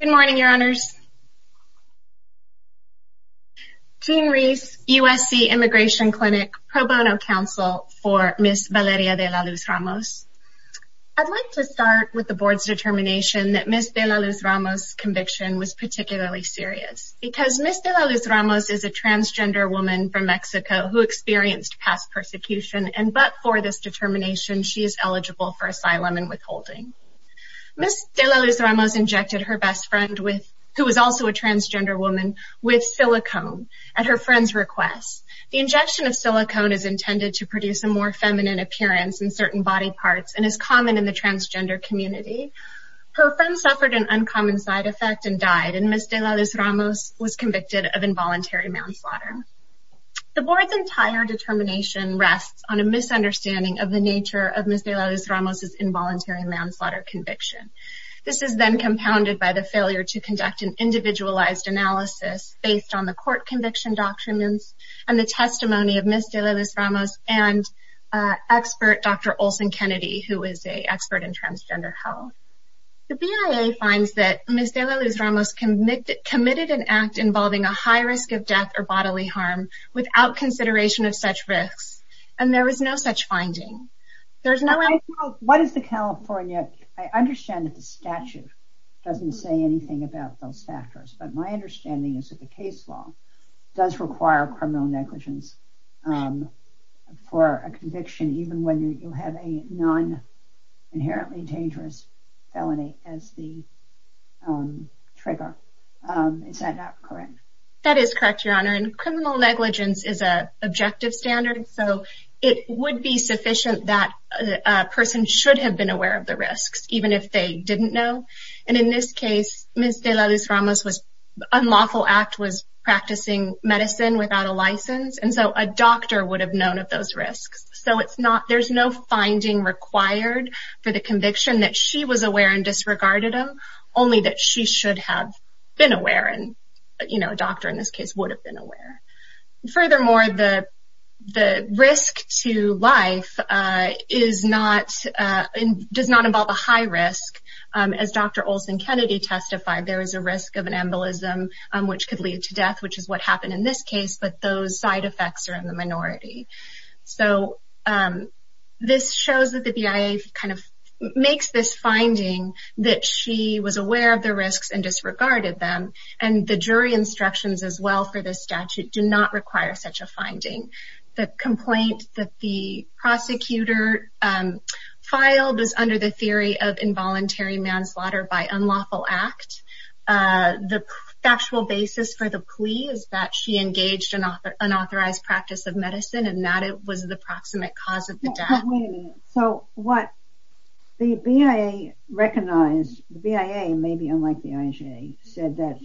Good morning, Your Honors. Jean Reese, USC Immigration Clinic Pro Bono Counsel for Ms. Valeria De La Luz Ramos. I'd like to start with the Board's determination that Ms. De La Luz Ramos' conviction was particularly serious because Ms. De La Luz Ramos is a transgender woman from Mexico who experienced past persecution and but for this determination she is eligible for asylum and withholding. Ms. De La Luz Ramos injected her best friend who was also a transgender woman with silicone at her friend's request. The injection of silicone is intended to produce a more feminine appearance in certain body parts and is common in the transgender community. Her friend suffered an uncommon side effect and died and Ms. De La Luz Ramos was convicted of involuntary manslaughter. The Board's entire determination rests on a misunderstanding of the nature of Ms. De La Luz Ramos' involuntary manslaughter conviction. This is then compounded by the failure to conduct an individualized analysis based on the court conviction doctrines and the testimony of Ms. De La Luz Ramos and expert Dr. Olson Kennedy who is an expert in transgender health. The BIA finds that Ms. De La Luz Ramos committed an act involving a high risk of death or bodily harm without consideration of such risks and there is no such finding. What is the California, I understand that the statute doesn't say anything about those factors but my understanding is that the case law does require criminal negligence for a conviction even when you have a non-inherently dangerous felony as the trigger. Is that correct? That is correct, Your Honor, and criminal negligence is an objective standard so it would be sufficient that a person should have been aware of the risks even if they didn't know and in this case Ms. De La Luz Ramos' unlawful act was practicing medicine without a license and so a doctor would have known of those risks. There is no finding required for the conviction that she was aware and disregarded them only that she should have been aware and a doctor in this case would have been aware. Furthermore, the risk to life does not involve a high risk. As Dr. Olson Kennedy testified, there is a risk of an embolism which could lead to death which is what happened in this case but those side effects are in the minority. This shows that the BIA makes this finding that she was aware of the risks and disregarded them and the jury instructions as well for this statute do not require such a finding. The complaint that the prosecutor filed is under the theory of involuntary manslaughter by unlawful act. The factual basis for the plea is that she engaged in unauthorized practice of medicine and that it was the proximate cause of the death. Wait a minute, so what the BIA recognized, the BIA maybe unlike the IJA said that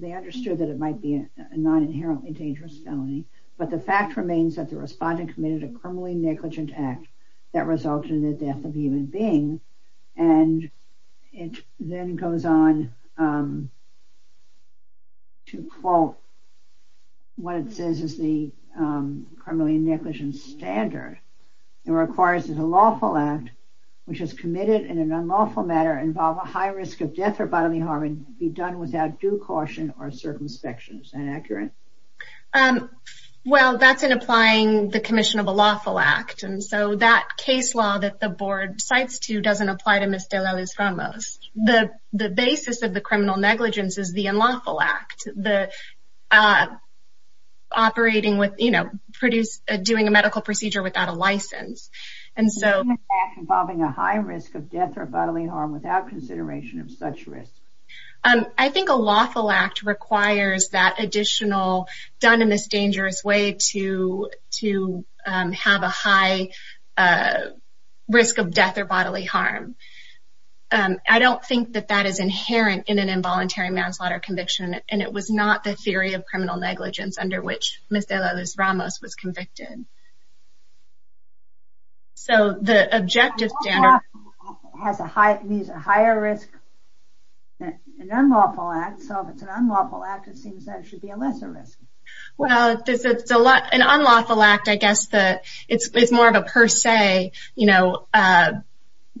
they understood that it might be a non-inherently dangerous felony but the fact remains that the respondent committed a criminally negligent act that resulted in the death of a human being and it then goes on to quote what it says is the criminally negligent standard. It requires that a lawful act which is committed in an unlawful manner involve a high risk of death or bodily harm and be done without due caution or circumspections. Is that accurate? Well, that's in applying the commission of a lawful act and so that case law that the board cites to doesn't apply to Ms. De La Luz Ramos. The basis of the criminal negligence is the unlawful act, the operating with, you know, doing a medical procedure without a license. And so... ...involving a high risk of death or bodily harm without consideration of such risk. I think a lawful act requires that additional done in this dangerous way to have a high risk of death or bodily harm. I don't think that that is inherent in an involuntary manslaughter conviction and it was not the theory of criminal negligence under which Ms. De La Luz Ramos was convicted. So the objective standard... It's a higher risk than an unlawful act. So if it's an unlawful act, it seems that it should be a lesser risk. Well, an unlawful act, I guess that it's more of a per se, you know,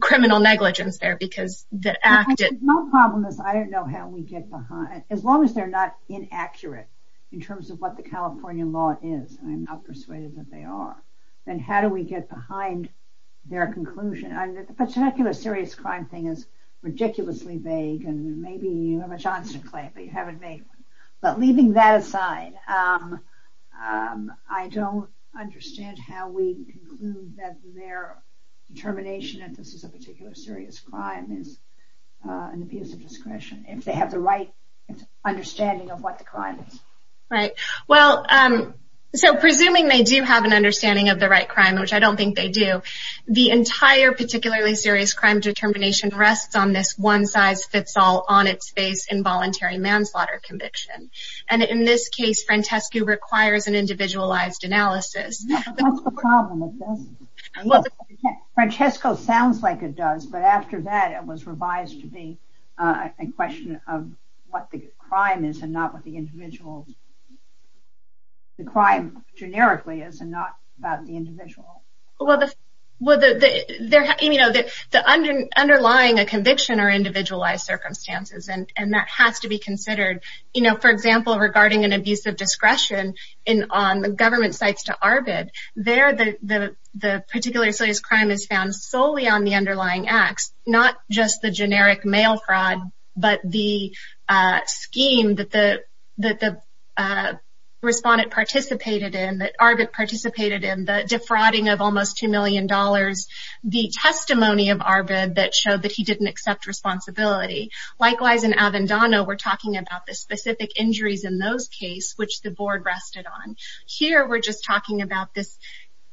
criminal negligence there because the act... The problem is I don't know how we get behind... As long as they're not inaccurate in terms of what the California law is, I'm not persuaded that they are. Then how do we get behind their conclusion? The particular serious crime thing is ridiculously vague and maybe you have a Johnson claim but you haven't made one. But leaving that aside, I don't understand how we conclude that their determination that this is a particular serious crime is an abuse of discretion if they have the right understanding of what the crime is. Right. Well, so presuming they do have an understanding of the right crime, which I don't think they do, the entire particularly serious crime determination rests on this one-size-fits-all, on-its-face involuntary manslaughter conviction. And in this case, Francesco requires an individualized analysis. That's the problem with this. Francesco sounds like it does, but after that it was revised to be a question of what the crime is and not what the individual... the crime generically is and not about the individual. Well, the underlying conviction are individualized circumstances and that has to be considered. For example, regarding an abuse of discretion on government sites to ARBID, there the particular serious crime is found solely on the underlying acts, not just the generic mail fraud, but the scheme that the respondent participated in, that ARBID participated in, the defrauding of almost $2 million, the testimony of ARBID that showed that he didn't accept responsibility. Likewise, in Avendano, we're talking about the specific injuries in those cases, which the Board rested on. Here, we're just talking about this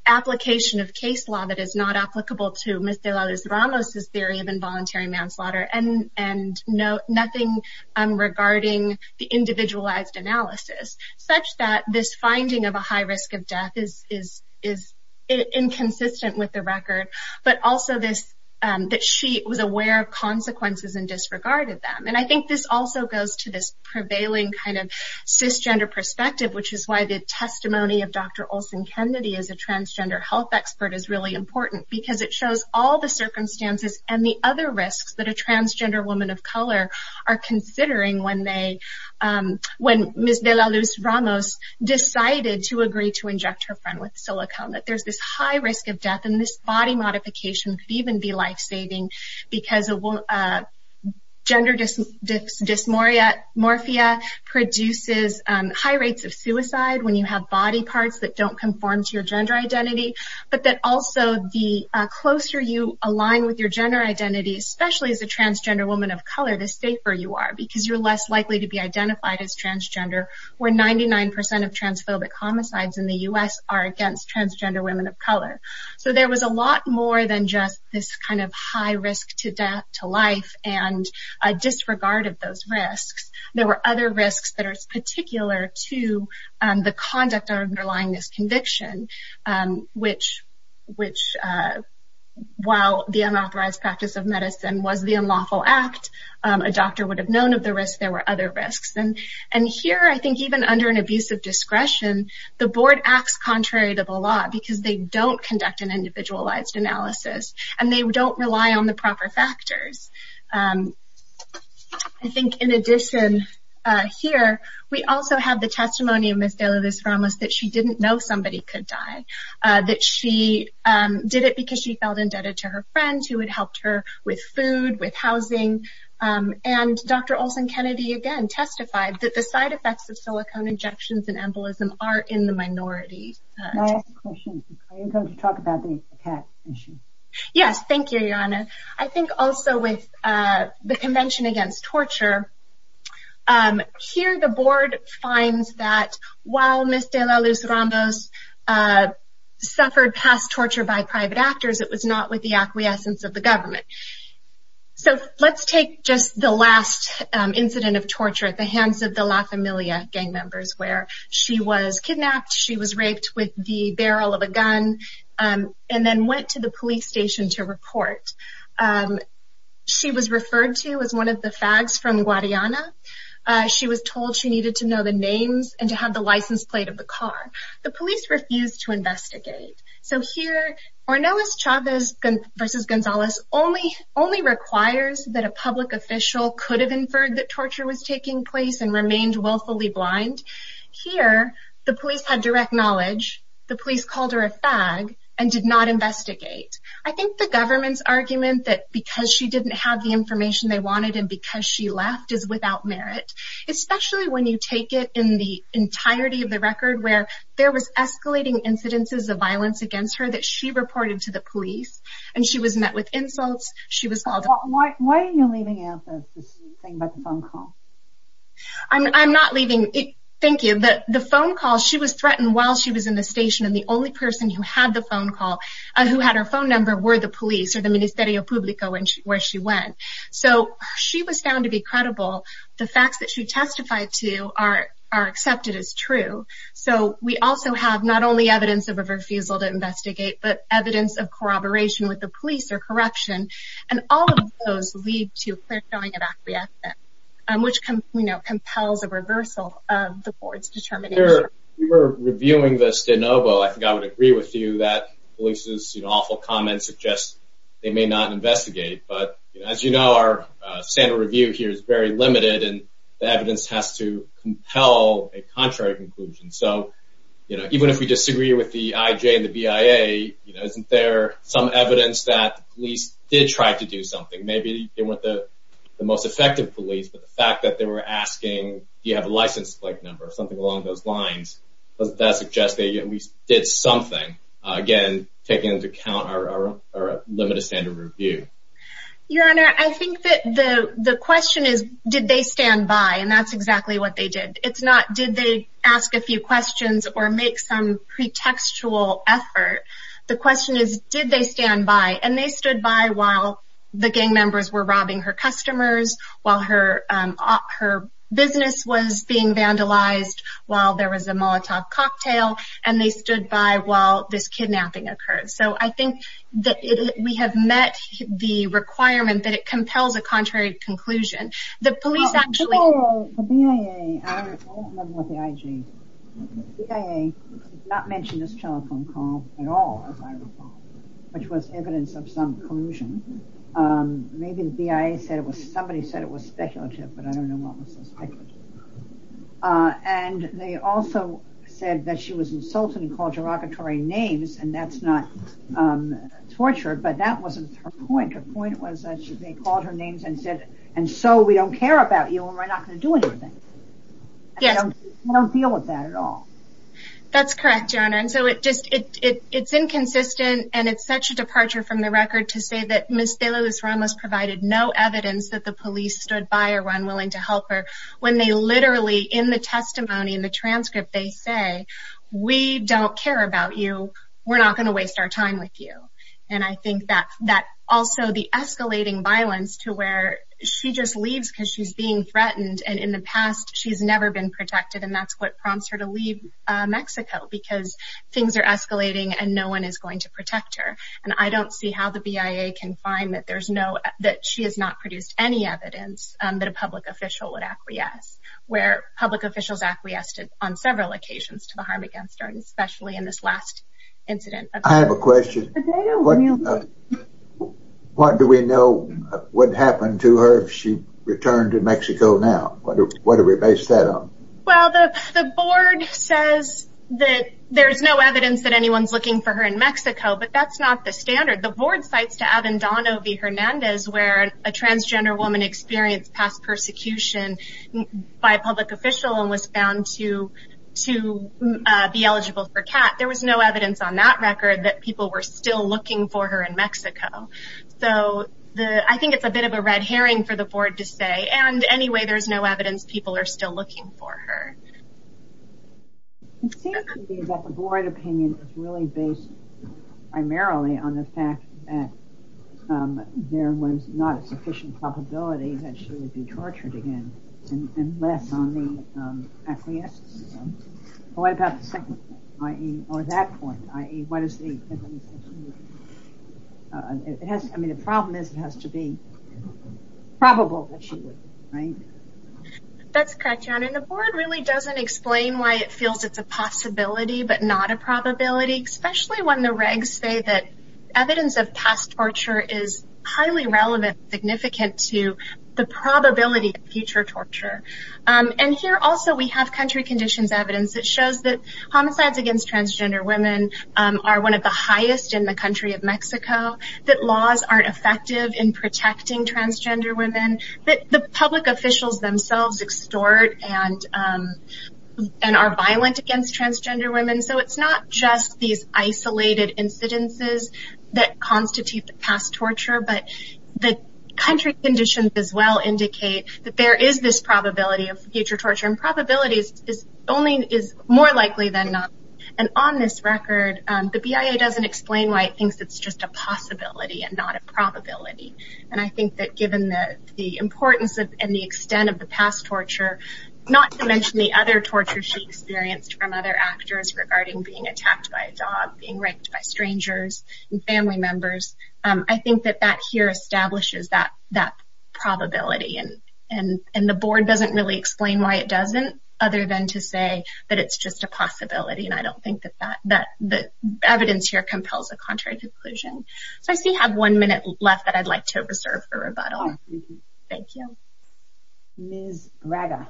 application of case law that is not applicable to Mr. Lalez-Ramos' theory of involuntary manslaughter and nothing regarding the individualized analysis, such that this finding of a high risk of death is inconsistent with the record, but also that she was aware of consequences and disregarded them. I think this also goes to this prevailing cisgender perspective, which is why the testimony of Dr. Olsen-Kennedy as a transgender health expert is really important, because it shows all the circumstances and the other risks that a transgender woman of color are considering when Ms. De La Luz-Ramos decided to agree to inject her friend with silicone, that there's this high risk of death, and this body modification could even be lifesaving because gender dysmorphia produces high rates of suicide when you have body parts that don't conform to your gender identity, but that also the closer you align with your gender identity, especially as a transgender woman of color, the safer you are, because you're less likely to be identified as transgender, where 99% of transphobic homicides in the U.S. are against transgender women of color. So there was a lot more than just this kind of high risk to death, to life, and a disregard of those risks. There were other risks that are particular to the conduct underlying this conviction, which, while the unauthorized practice of medicine was the unlawful act, a doctor would have known of the risks, there were other risks. And here, I think even under an abuse of discretion, the board acts contrary to the law because they don't conduct an individualized analysis, and they don't rely on the proper factors. I think in addition here, we also have the testimony of Ms. De La Luz-Ramos that she didn't know somebody could die, that she did it because she felt indebted to her friend who had helped her with food, with housing. And Dr. Olsen-Kennedy, again, testified that the side effects of silicone injections and embolism are in the minority. May I ask a question? Are you going to talk about the attack issue? Yes, thank you, Your Honor. I think also with the Convention Against Torture, here the board finds that while Ms. De La Luz-Ramos suffered past torture by private actors, it was not with the acquiescence of the government. So let's take just the last incident of torture at the hands of the La Familia gang members where she was kidnapped, she was raped with the barrel of a gun, and then went to the police station to report. She was referred to as one of the fags from Guadiana. She was told she needed to know the names and to have the license plate of the car. The police refused to investigate. So here Ornelas Chavez v. Gonzalez only requires that a public official could have inferred that torture was taking place and remained willfully blind. Here the police had direct knowledge. The police called her a fag and did not investigate. I think the government's argument that because she didn't have the information they wanted and because she left is without merit, especially when you take it in the entirety of the record where there was escalating incidences of violence against her that she reported to the police and she was met with insults. Why are you leaving out this thing about the phone call? I'm not leaving it. Thank you. The phone call, she was threatened while she was in the station and the only person who had her phone number were the police or the Ministerio Publico where she went. So she was found to be credible. The facts that she testified to are accepted as true. So we also have not only evidence of a refusal to investigate but evidence of corroboration with the police or corruption and all of those lead to a clear showing of acquiescence which compels a reversal of the court's determination. We were reviewing this de novo. I think I would agree with you that police's awful comments suggest they may not investigate. But as you know, our standard review here is very limited and the evidence has to compel a contrary conclusion. So even if we disagree with the IJ and the BIA, isn't there some evidence that the police did try to do something? Maybe they weren't the most effective police, but the fact that they were asking, do you have a license plate number or something along those lines, doesn't that suggest that we did something? Again, taking into account our limited standard review. Your Honor, I think that the question is, did they stand by? And that's exactly what they did. It's not, did they ask a few questions or make some pretextual effort? The question is, did they stand by? And they stood by while the gang members were robbing her customers, while her business was being vandalized, while there was a Molotov cocktail, and they stood by while this kidnapping occurred. So I think that we have met the requirement that it compels a contrary conclusion. The police actually... The BIA, I don't know about the IJ, the BIA did not mention this telephone call at all, as I recall, which was evidence of some collusion. Maybe the BIA said it was, somebody said it was speculative, but I don't know what was so speculative. And they also said that she was insulted and called derogatory names, and that's not torture, but that wasn't her point. Her point was that they called her names and said, and so we don't care about you and we're not going to do anything. Yes. We don't deal with that at all. That's correct, Your Honor. And so it's inconsistent, and it's such a departure from the record to say that Ms. De La Luz-Ramos provided no evidence that the police stood by or were unwilling to help her, when they literally, in the testimony, in the transcript, they say, we don't care about you, we're not going to waste our time with you. And I think that also the escalating violence to where she just leaves because she's being threatened, and in the past she's never been protected, and that's what prompts her to leave Mexico, because things are escalating and no one is going to protect her. And I don't see how the BIA can find that she has not produced any evidence that a public official would acquiesce, where public officials acquiesced on several occasions to the harm against her, especially in this last incident. I have a question. What do we know what happened to her if she returned to Mexico now? What do we base that on? Well, the board says that there's no evidence that anyone's looking for her in Mexico, but that's not the standard. The board cites Avendano v. Hernandez, where a transgender woman experienced past persecution by a public official and was found to be eligible for CAT. There was no evidence on that record that people were still looking for her in Mexico. So I think it's a bit of a red herring for the board to say, and anyway there's no evidence people are still looking for her. It seems to me that the board opinion is really based primarily on the fact that there was not a sufficient probability that she would be tortured again, unless on the acquiescence. What about the second point, or that point, i.e., what is the evidence? I mean, the problem is it has to be probable that she would, right? That's correct, Jana, and the board really doesn't explain why it feels it's a possibility but not a probability, especially when the regs say that evidence of past torture is highly relevant and significant to the probability of future torture. And here also we have country conditions evidence that shows that homicides against transgender women are one of the highest in the country of Mexico, that laws aren't effective in protecting transgender women, that the public officials themselves extort and are violent against transgender women. So it's not just these isolated incidences that constitute the past torture, but the country conditions as well indicate that there is this probability of future torture, and probability is more likely than not. And on this record, the BIA doesn't explain why it thinks it's just a possibility and not a probability. And I think that given the importance and the extent of the past torture, not to mention the other torture she experienced from other actors regarding being attacked by a dog, being raped by strangers and family members, I think that that here establishes that probability, and the board doesn't really explain why it doesn't other than to say that it's just a possibility, and I don't think that the evidence here compels a contrary conclusion. So I see I have one minute left that I'd like to reserve for rebuttal. Thank you. Ms. Braga.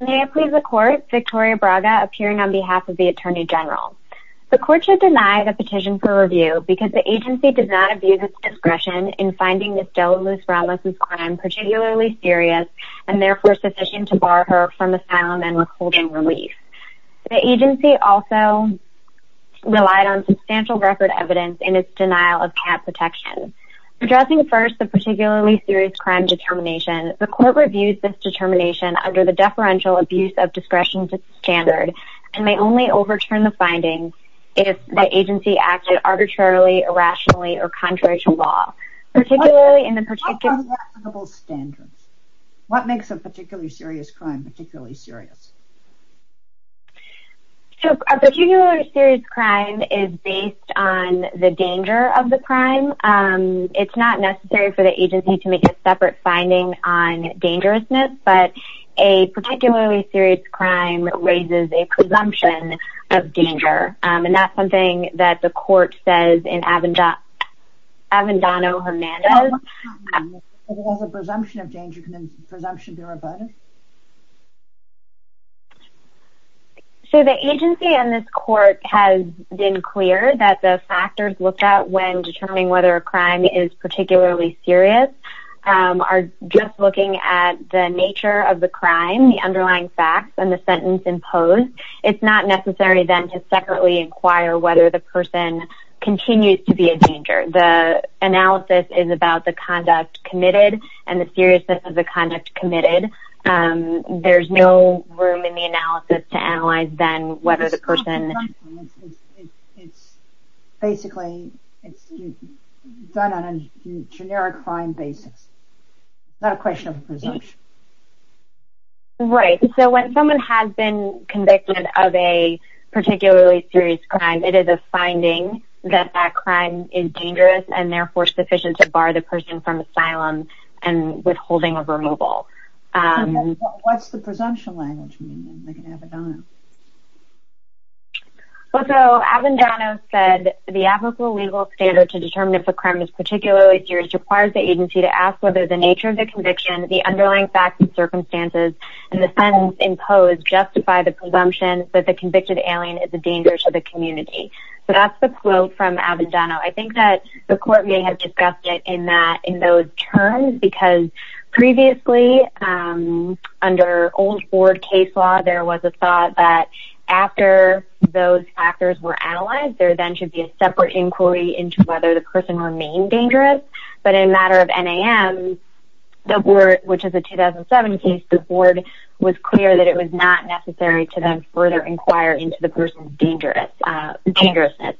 May I please the court? Victoria Braga, appearing on behalf of the Attorney General. The court should deny the petition for review because the agency did not abuse its discretion in finding Ms. Dela Luz-Ramos' crime particularly serious, and therefore sufficient to bar her from asylum and withholding relief. The agency also relied on substantial record evidence in its denial of cat protection. Addressing first the particularly serious crime determination, the court reviews this determination under the deferential abuse of discretion standard and may only overturn the findings if the agency acted arbitrarily, irrationally, or contrary to law, particularly in the particular... What makes a particularly serious crime particularly serious? So a particularly serious crime is based on the danger of the crime. It's not necessary for the agency to make a separate finding on dangerousness, but a particularly serious crime raises a presumption of danger, and that's something that the court says in Avendano-Hermanos. What does a presumption of danger mean? Can a presumption be rebutted? So the agency and this court has been clear that the factors looked at when determining whether a crime is particularly serious are just looking at the nature of the crime, the underlying facts, and the sentence imposed. It's not necessary then to separately inquire whether the person continues to be a danger. The analysis is about the conduct committed and the seriousness of the conduct committed. There's no room in the analysis to analyze then whether the person... It's basically done on a generic crime basis, not a question of a presumption. Right. So when someone has been convicted of a particularly serious crime, it is a finding that that crime is dangerous and therefore sufficient to bar the person from asylum and withholding of removal. What's the presumption language mean in Avendano? So Avendano said the applicable legal standard to determine if a crime is particularly serious requires the agency to ask whether the nature of the conviction, the underlying facts and circumstances, and the sentence imposed justify the presumption that the convicted alien is a danger to the community. So that's the quote from Avendano. I think that the court may have discussed it in those terms because previously under old board case law, there was a thought that after those factors were analyzed, there then should be a separate inquiry into whether the person remained dangerous. But in a matter of NAM, which is a 2007 case, the board was clear that it was not necessary to then further inquire into the person's dangerousness.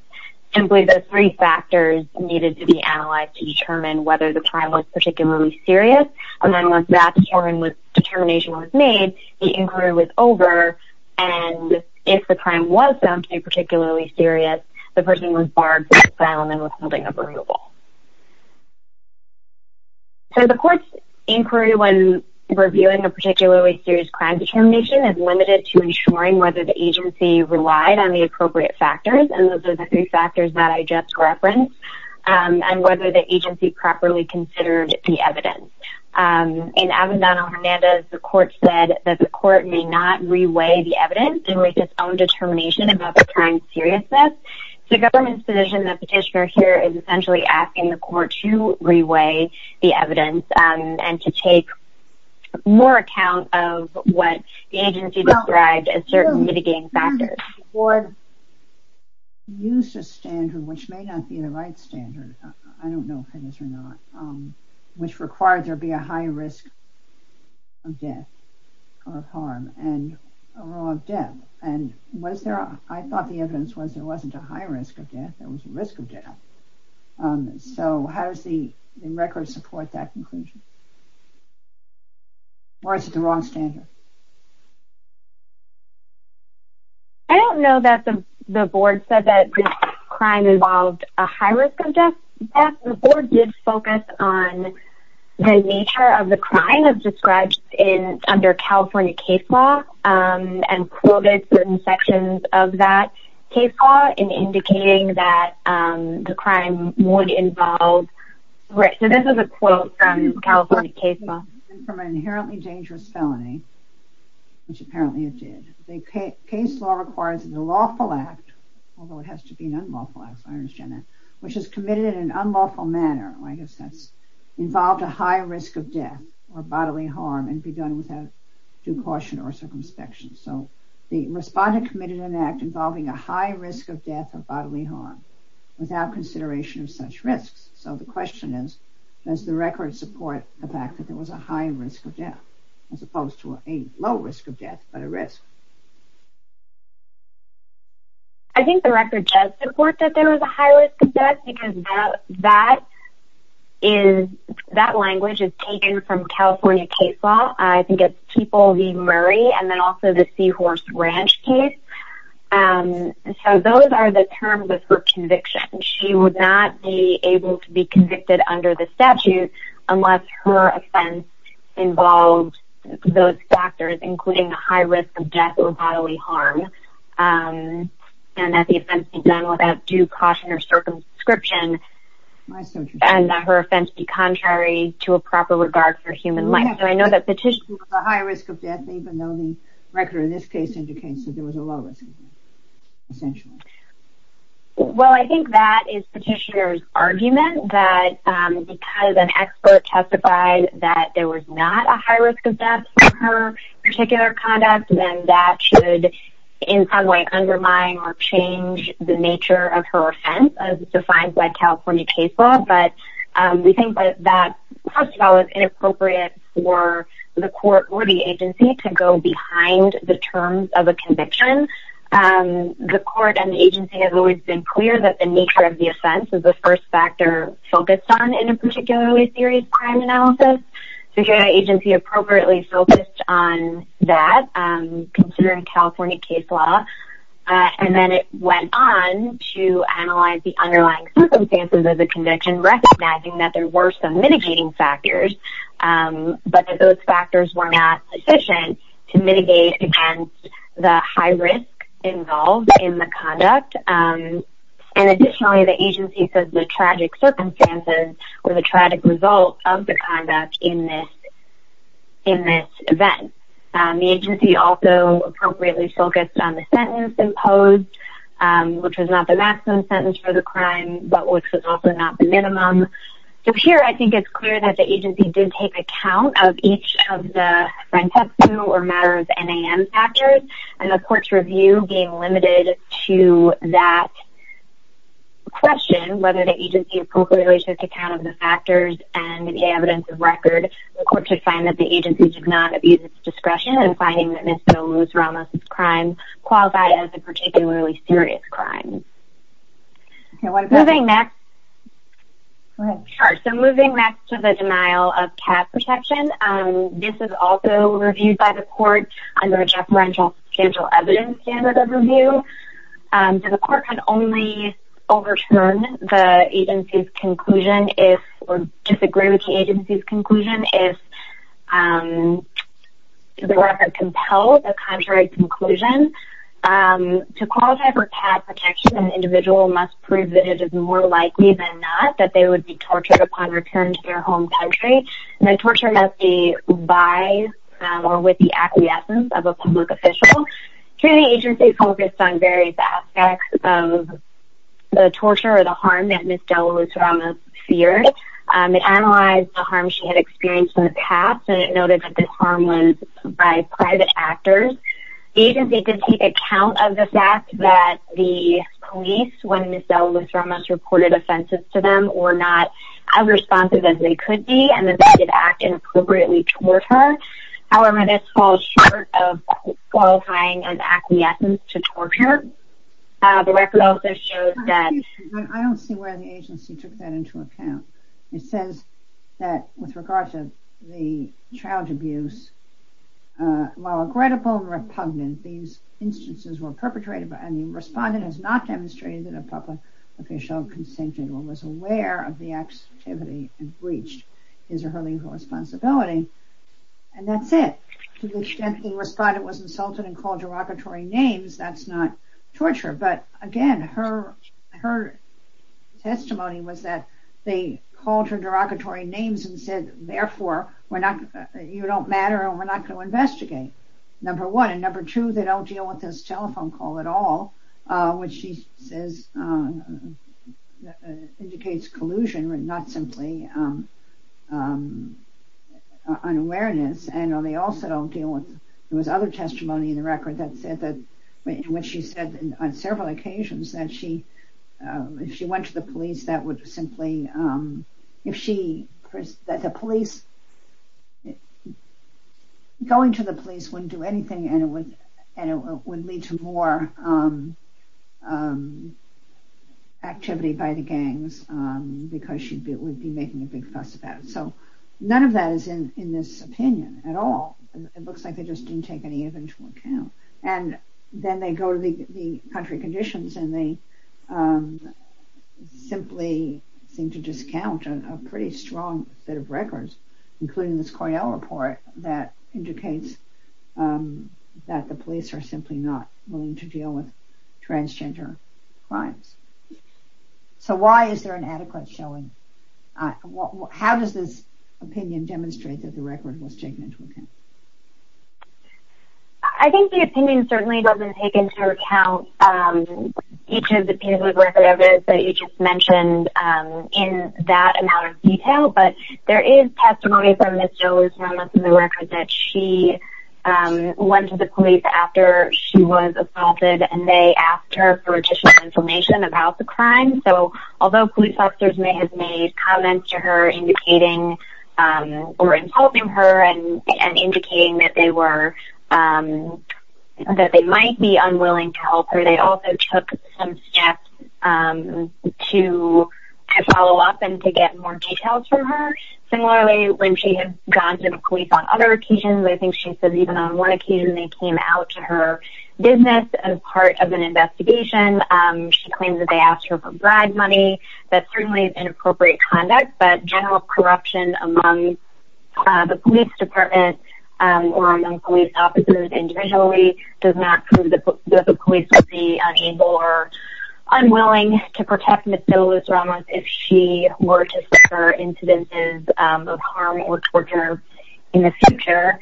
Simply the three factors needed to be analyzed to determine whether the crime was particularly serious. And then once that determination was made, the inquiry was over. And if the crime was found to be particularly serious, the person was barred from asylum and withholding of removal. So the court's inquiry when reviewing a particularly serious crime determination is limited to ensuring whether the agency relied on the appropriate factors, and those are the three factors that I just referenced, and whether the agency properly considered the evidence. In Avendano-Hernandez, the court said that the court may not reweigh the evidence and make its own determination about the crime's seriousness. So the government's position, the petitioner here, is essentially asking the court to reweigh the evidence and to take more account of what the agency described as certain mitigating factors. The board used a standard, which may not be the right standard, I don't know if it is or not, which required there be a high risk of death or of harm and a low of death. And I thought the evidence was there wasn't a high risk of death, there was a risk of death. So how does the record support that conclusion? Or is it the wrong standard? I don't know that the board said that this crime involved a high risk of death. The board did focus on the nature of the crime as described under California case law and quoted certain sections of that case law in indicating that the crime would involve... So this is a quote from California case law. From an inherently dangerous felony, which apparently it did. The case law requires that the lawful act, although it has to be an unlawful act, I understand that, which is committed in an unlawful manner, I guess that's involved a high risk of death or bodily harm and be done without due caution or circumspection. So the respondent committed an act involving a high risk of death or bodily harm without consideration of such risks. So the question is, does the record support the fact that there was a high risk of death as opposed to a low risk of death, but a risk? I think the record does support that there was a high risk of death because that language is taken from California case law. I think it's Keeple v. Murray and then also the Seahorse Ranch case. So those are the terms of her conviction. She would not be able to be convicted under the statute unless her offense involved those factors, including a high risk of death or bodily harm and that the offense be done without due caution or circumscription and that her offense be contrary to a proper regard for human life. So I know that Petitioner was a high risk of death, even though the record in this case indicates that there was a low risk of death, essentially. Well, I think that is Petitioner's argument, that because an expert testified that there was not a high risk of death for her particular conduct, then that should in some way undermine or change the nature of her offense as defined by California case law. But we think that that, first of all, is inappropriate for the court or the agency to go behind the terms of a conviction. The court and the agency have always been clear that the nature of the offense is the first factor focused on in a particularly serious crime analysis. So here the agency appropriately focused on that, considering California case law, and then it went on to analyze the underlying circumstances of the conviction, recognizing that there were some mitigating factors, but that those factors were not sufficient to mitigate against the high risk involved in the conduct. And additionally, the agency said the tragic circumstances or the tragic result of the conduct in this event. The agency also appropriately focused on the sentence imposed, which was not the maximum sentence for the crime, but which was also not the minimum. So here I think it's clear that the agency did take account of each of the francescu or matter of NAM factors, and the court's review being limited to that question, whether the agency appropriately took account of the factors and the evidence of record, the court should find that the agency did not abuse its discretion in finding that Ms. Bill Lewis-Ramos' crime qualified as a particularly serious crime. Moving next to the denial of cap protection. This is also reviewed by the court under a deferential substantial evidence standard of review. The court can only overturn the agency's conclusion or disagree with the agency's conclusion if the record compels a contrary conclusion. To qualify for cap protection, an individual must prove that it is more likely than not that they would be tortured upon return to their home country, and the torture must be by or with the acquiescence of a public official. Here the agency focused on various aspects of the torture or the harm that Ms. Bill Lewis-Ramos feared. It analyzed the harm she had experienced in the past, and it noted that this harm was by private actors. The agency did take account of the fact that the police, when Ms. Bill Lewis-Ramos reported offenses to them, were not as responsive as they could be, and that they did act inappropriately toward her. However, this falls short of qualifying an acquiescence to torture. The record also shows that... I don't see where the agency took that into account. It says that with regard to the child abuse, while regrettable and repugnant, these instances were perpetrated by... and the respondent has not demonstrated that a public official consented or was aware of the activity and breached his or her legal responsibility, and that's it. To the extent the respondent was insulted and called derogatory names, that's not torture. But again, her testimony was that they called her derogatory names and said, therefore, you don't matter and we're not going to investigate, number one. And number two, they don't deal with this telephone call at all, which she says indicates collusion and not simply unawareness. And they also don't deal with... There was other testimony in the record that said that when she said on several occasions that she... if she went to the police, that would simply... if she... that the police... going to the police wouldn't do anything and it would lead to more activity by the gangs because she would be making a big fuss about it. So none of that is in this opinion at all. It looks like they just didn't take any of it into account. And then they go to the country conditions and they simply seem to discount a pretty strong bit of records, including this Cornell report that indicates that the police are simply not willing to deal with transgender crimes. So why is there an adequate showing? How does this opinion demonstrate that the record was taken into account? I think the opinion certainly doesn't take into account each of the pieces of record evidence But there is testimony from Ms. Jones from the record that she went to the police after she was assaulted and they asked her for additional information about the crime. So although police officers may have made comments to her indicating or insulting her and indicating that they were... that they might be unwilling to help her, they also took some steps to follow up and to get more details from her. Similarly, when she had gone to the police on other occasions, I think she said even on one occasion they came out to her business as part of an investigation. She claimed that they asked her for bribe money. That certainly is inappropriate conduct, but general corruption among the police department or among police officers individually does not prove that the police would be unable or unwilling to protect Ms. DeLuz-Ramos if she were to suffer incidences of harm or torture in the future.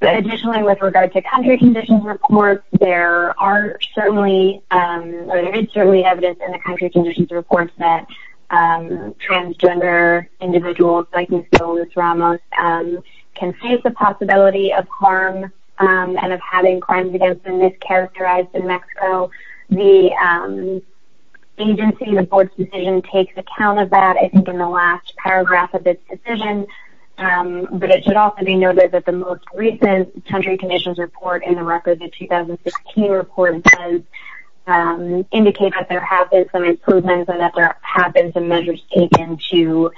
Additionally, with regard to country conditions reports, there are certainly... or there is certainly evidence in the country conditions reports that transgender individuals like Ms. DeLuz-Ramos can face the possibility of harm and of having crimes against them mischaracterized in Mexico. The agency, the board's decision, takes account of that, I think, in the last paragraph of its decision. But it should also be noted that the most recent country conditions report in the record, the 2016 report, does indicate that there have been some improvements and that there have been some measures taken to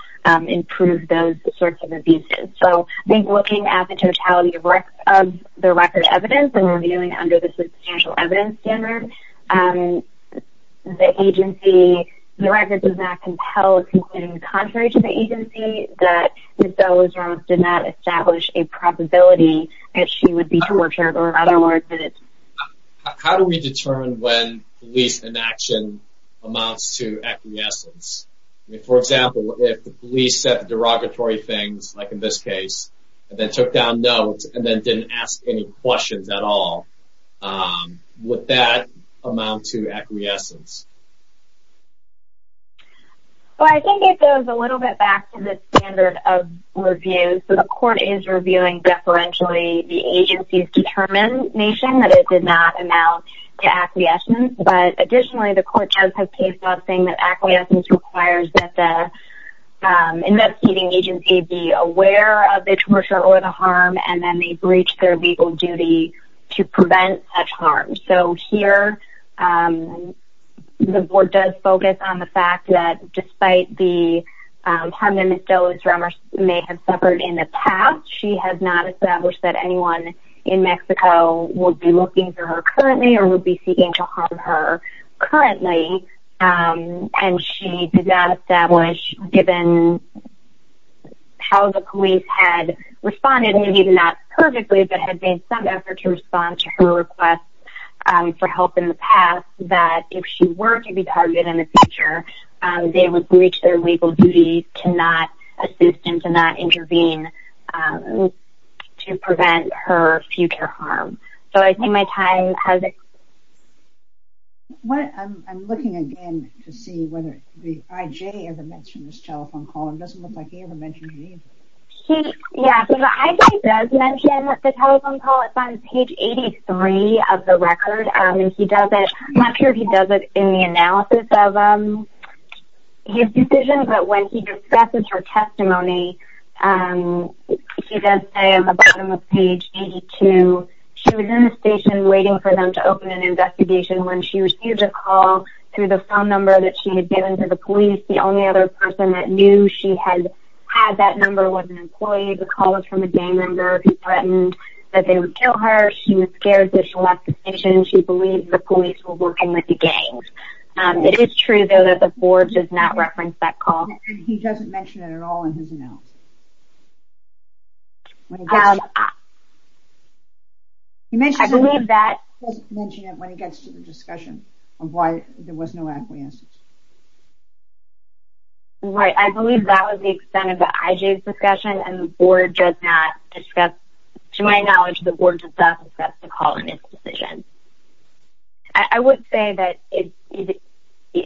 improve those sorts of abuses. So, I think looking at the totality of the record evidence and reviewing it under the substantial evidence standard, the agency... the record does not compel, concluding contrary to the agency, that Ms. DeLuz-Ramos did not establish a probability that she would be tortured or, in other words, that it... How do we determine when police inaction amounts to acquiescence? I mean, for example, if the police said derogatory things, like in this case, and then took down notes and then didn't ask any questions at all, would that amount to acquiescence? Well, I think it goes a little bit back to the standard of review. So, the court is reviewing deferentially the agency's determination that it did not amount to acquiescence. But, additionally, the court does have case law saying that acquiescence requires that the investigating agency be aware of the torture or the harm, and then they breach their legal duty to prevent such harm. So, here, the board does focus on the fact that, despite the harm that Ms. DeLuz-Ramos may have suffered in the past, she has not established that anyone in Mexico would be looking for her currently or would be seeking to harm her currently. And she did not establish, given how the police had responded, maybe not perfectly, but had made some effort to respond to her request for help in the past, that if she were to be targeted in the future, they would breach their legal duty to not assist and to not intervene to prevent her future harm. So, I think my time has expired. I'm looking again to see whether the IJ ever mentioned this telephone call. It doesn't look like he ever mentioned it either. Yeah, the IJ does mention the telephone call. It's on page 83 of the record. I'm not sure if he does it in the analysis of his decision, but when he discusses her testimony, he does say on the bottom of page 82, she was in the station waiting for them to open an investigation when she received a call through the phone number that she had given to the police. The only other person that knew she had had that number was an employee. The call was from a gang member who threatened that they would kill her. She was scared, so she left the station. She believed the police were working with the gangs. It is true, though, that the board does not reference that call. He doesn't mention it at all in his analysis. I believe that... He doesn't mention it when he gets to the discussion of why there was no acquiescence. Right, I believe that was the extent of the IJ's discussion, and the board does not discuss... To my knowledge, the board does not discuss the call in his decision. I would say that it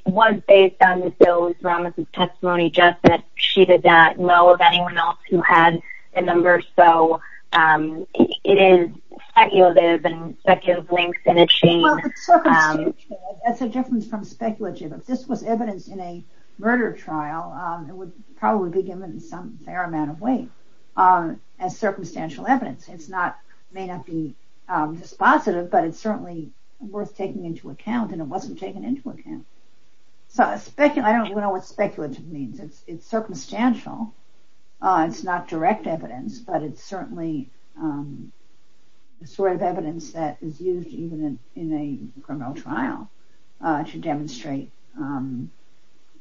was based on Ms. Ellis-Ramos' testimony, just that she did not know of anyone else who had the number, so it is speculative, and speculative links in a chain. Well, it's so constituent. That's the difference from speculative. If this was evidence in a murder trial, it would probably be given in some fair amount of weight as circumstantial evidence. It may not be dispositive, but it's certainly worth taking into account, and it wasn't taken into account. I don't know what speculative means. It's circumstantial. It's not direct evidence, but it's certainly the sort of evidence that is used even in a criminal trial to demonstrate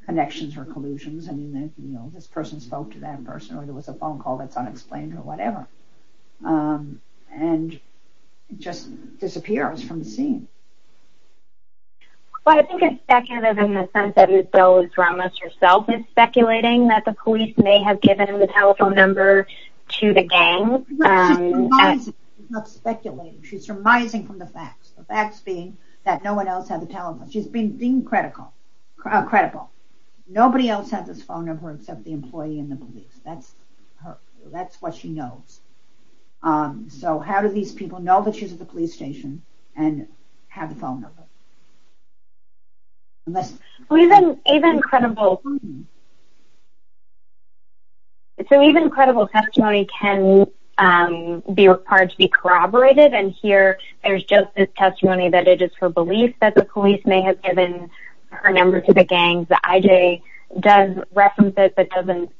connections or collusions. I mean, this person spoke to that person, or there was a phone call that's unexplained or whatever, and it just disappears from the scene. Well, I think it's speculative in the sense that Ms. Ellis-Ramos herself is speculating that the police may have given him the telephone number to the gang. She's not speculating. She's surmising from the facts, the facts being that no one else had the telephone. She's being credible. Nobody else had this phone number except the employee and the police. That's what she knows. So how do these people know that she's at the police station and have the phone number? So even credible testimony can be required to be corroborated, and here there's just this testimony that it is her belief that the police may have given her number to the gang. The IJ does reference it, but doesn't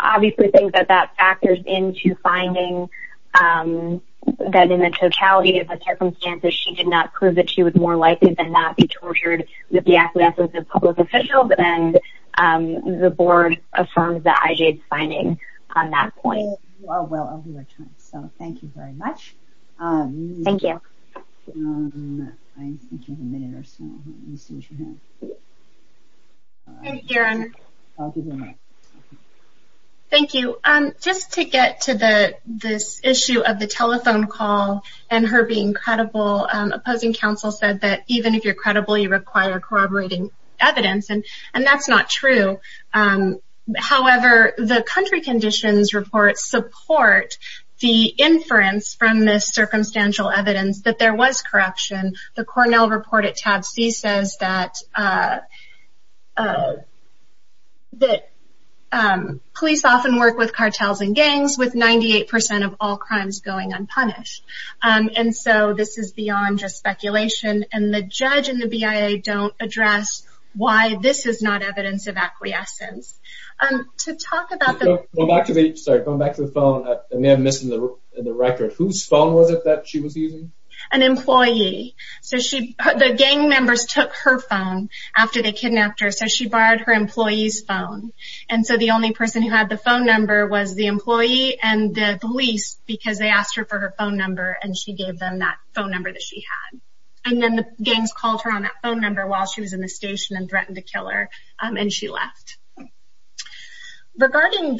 obviously think that that factors into finding that in the totality of the circumstances, she did not prove that she was more likely than not to be tortured with the acquiescence of public officials, and the board affirms the IJ's finding on that point. Well, I'll be right back. So thank you very much. Thank you. Thank you. Thank you. Thank you. Just to get to this issue of the telephone call and her being credible, opposing counsel said that even if you're credible, you require corroborating evidence, and that's not true. However, the country conditions report supports the inference from this circumstantial evidence that there was corruption. The Cornell report at tab C says that police often work with cartels and gangs, with 98% of all crimes going unpunished. And so this is beyond just speculation, and the judge and the BIA don't address why this is not evidence of acquiescence. To talk about the... Sorry, going back to the phone, I may have missed the record. Whose phone was it that she was using? An employee. The gang members took her phone after they kidnapped her, so she borrowed her employee's phone. And so the only person who had the phone number was the employee and the police because they asked her for her phone number, and she gave them that phone number that she had. And then the gangs called her on that phone number while she was in the station and threatened to kill her, and she left. Regarding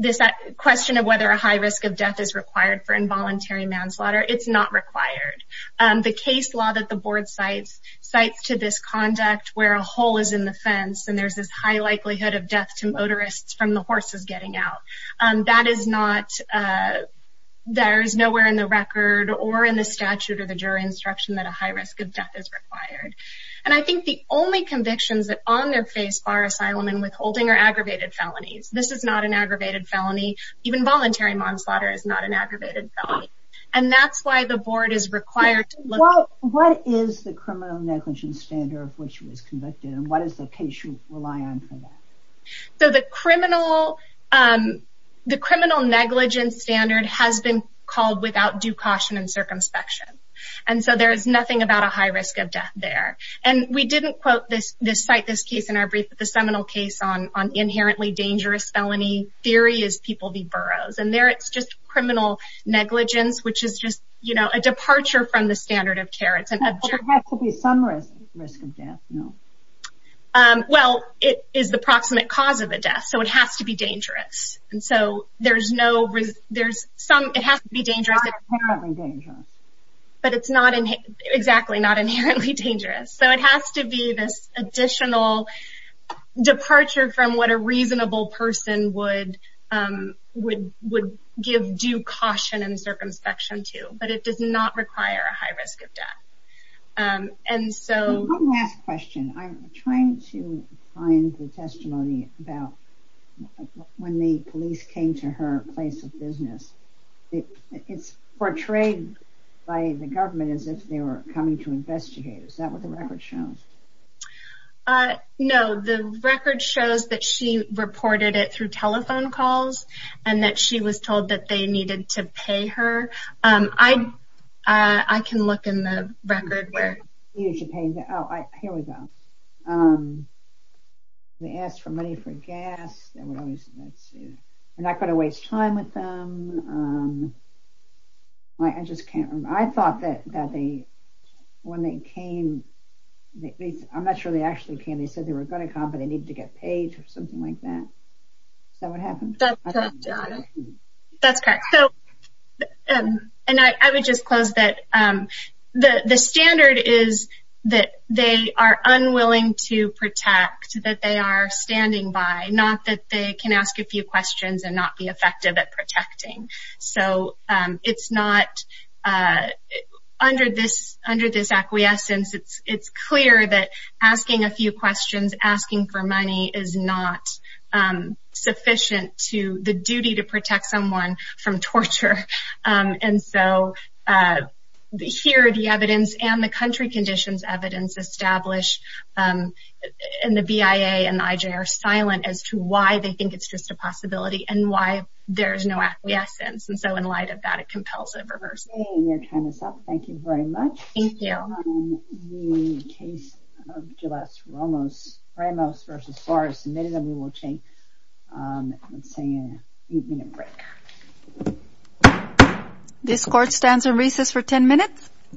this question of whether a high risk of death is required for involuntary manslaughter, it's not required. The case law that the board cites cites to this conduct where a hole is in the fence and there's this high likelihood of death to motorists from the horses getting out. That is not... There is nowhere in the record or in the statute or the jury instruction that a high risk of death is required. And I think the only convictions that on their face are asylum and withholding are aggravated felonies. This is not an aggravated felony. Even voluntary manslaughter is not an aggravated felony. And that's why the board is required to look... What is the criminal negligence standard of which she was convicted, and what is the case you rely on for that? So the criminal negligence standard has been called without due caution and circumspection. And so there is nothing about a high risk of death there. And we didn't cite this case in our brief, but the seminal case on inherently dangerous felony theory is People v. Burroughs. And there it's just criminal negligence, which is just a departure from the standard of care. It's an... But there has to be some risk of death, no? Well, it is the proximate cause of a death, so it has to be dangerous. And so there's no... There's some... It has to be dangerous. Not inherently dangerous. But it's not... Exactly, not inherently dangerous. So it has to be this additional departure from what a reasonable person would give due caution and circumspection to. But it does not require a high risk of death. And so... One last question. I'm trying to find the testimony about when the police came to her place of business. It's portrayed by the government as if they were coming to investigate. Is that what the record shows? No. The record shows that she reported it through telephone calls and that she was told that they needed to pay her. I can look in the record where... Oh, here we go. They asked for money for gas. They're not going to waste time with them. I just can't remember. I thought that when they came... I'm not sure they actually came. They said they were going to come, but they needed to get paid or something like that. Is that what happened? That's correct. And I would just close that the standard is that they are unwilling to protect, that they are standing by, not that they can ask a few questions and not be effective at protecting. So it's not... Under this acquiescence, it's clear that asking a few questions, asking for money, is not sufficient to the duty to protect someone from torture. And so here are the evidence and the country conditions evidence established, and the BIA and the IJ are silent as to why they think it's just a possibility and why there's no acquiescence. And so in light of that, it compels a reversal. Okay, we're going to time this up. Thank you very much. Thank you. The case of Jules Ramos v. Suarez submitted, and we will take, let's say, an eight-minute break. This court stands on recess for ten minutes.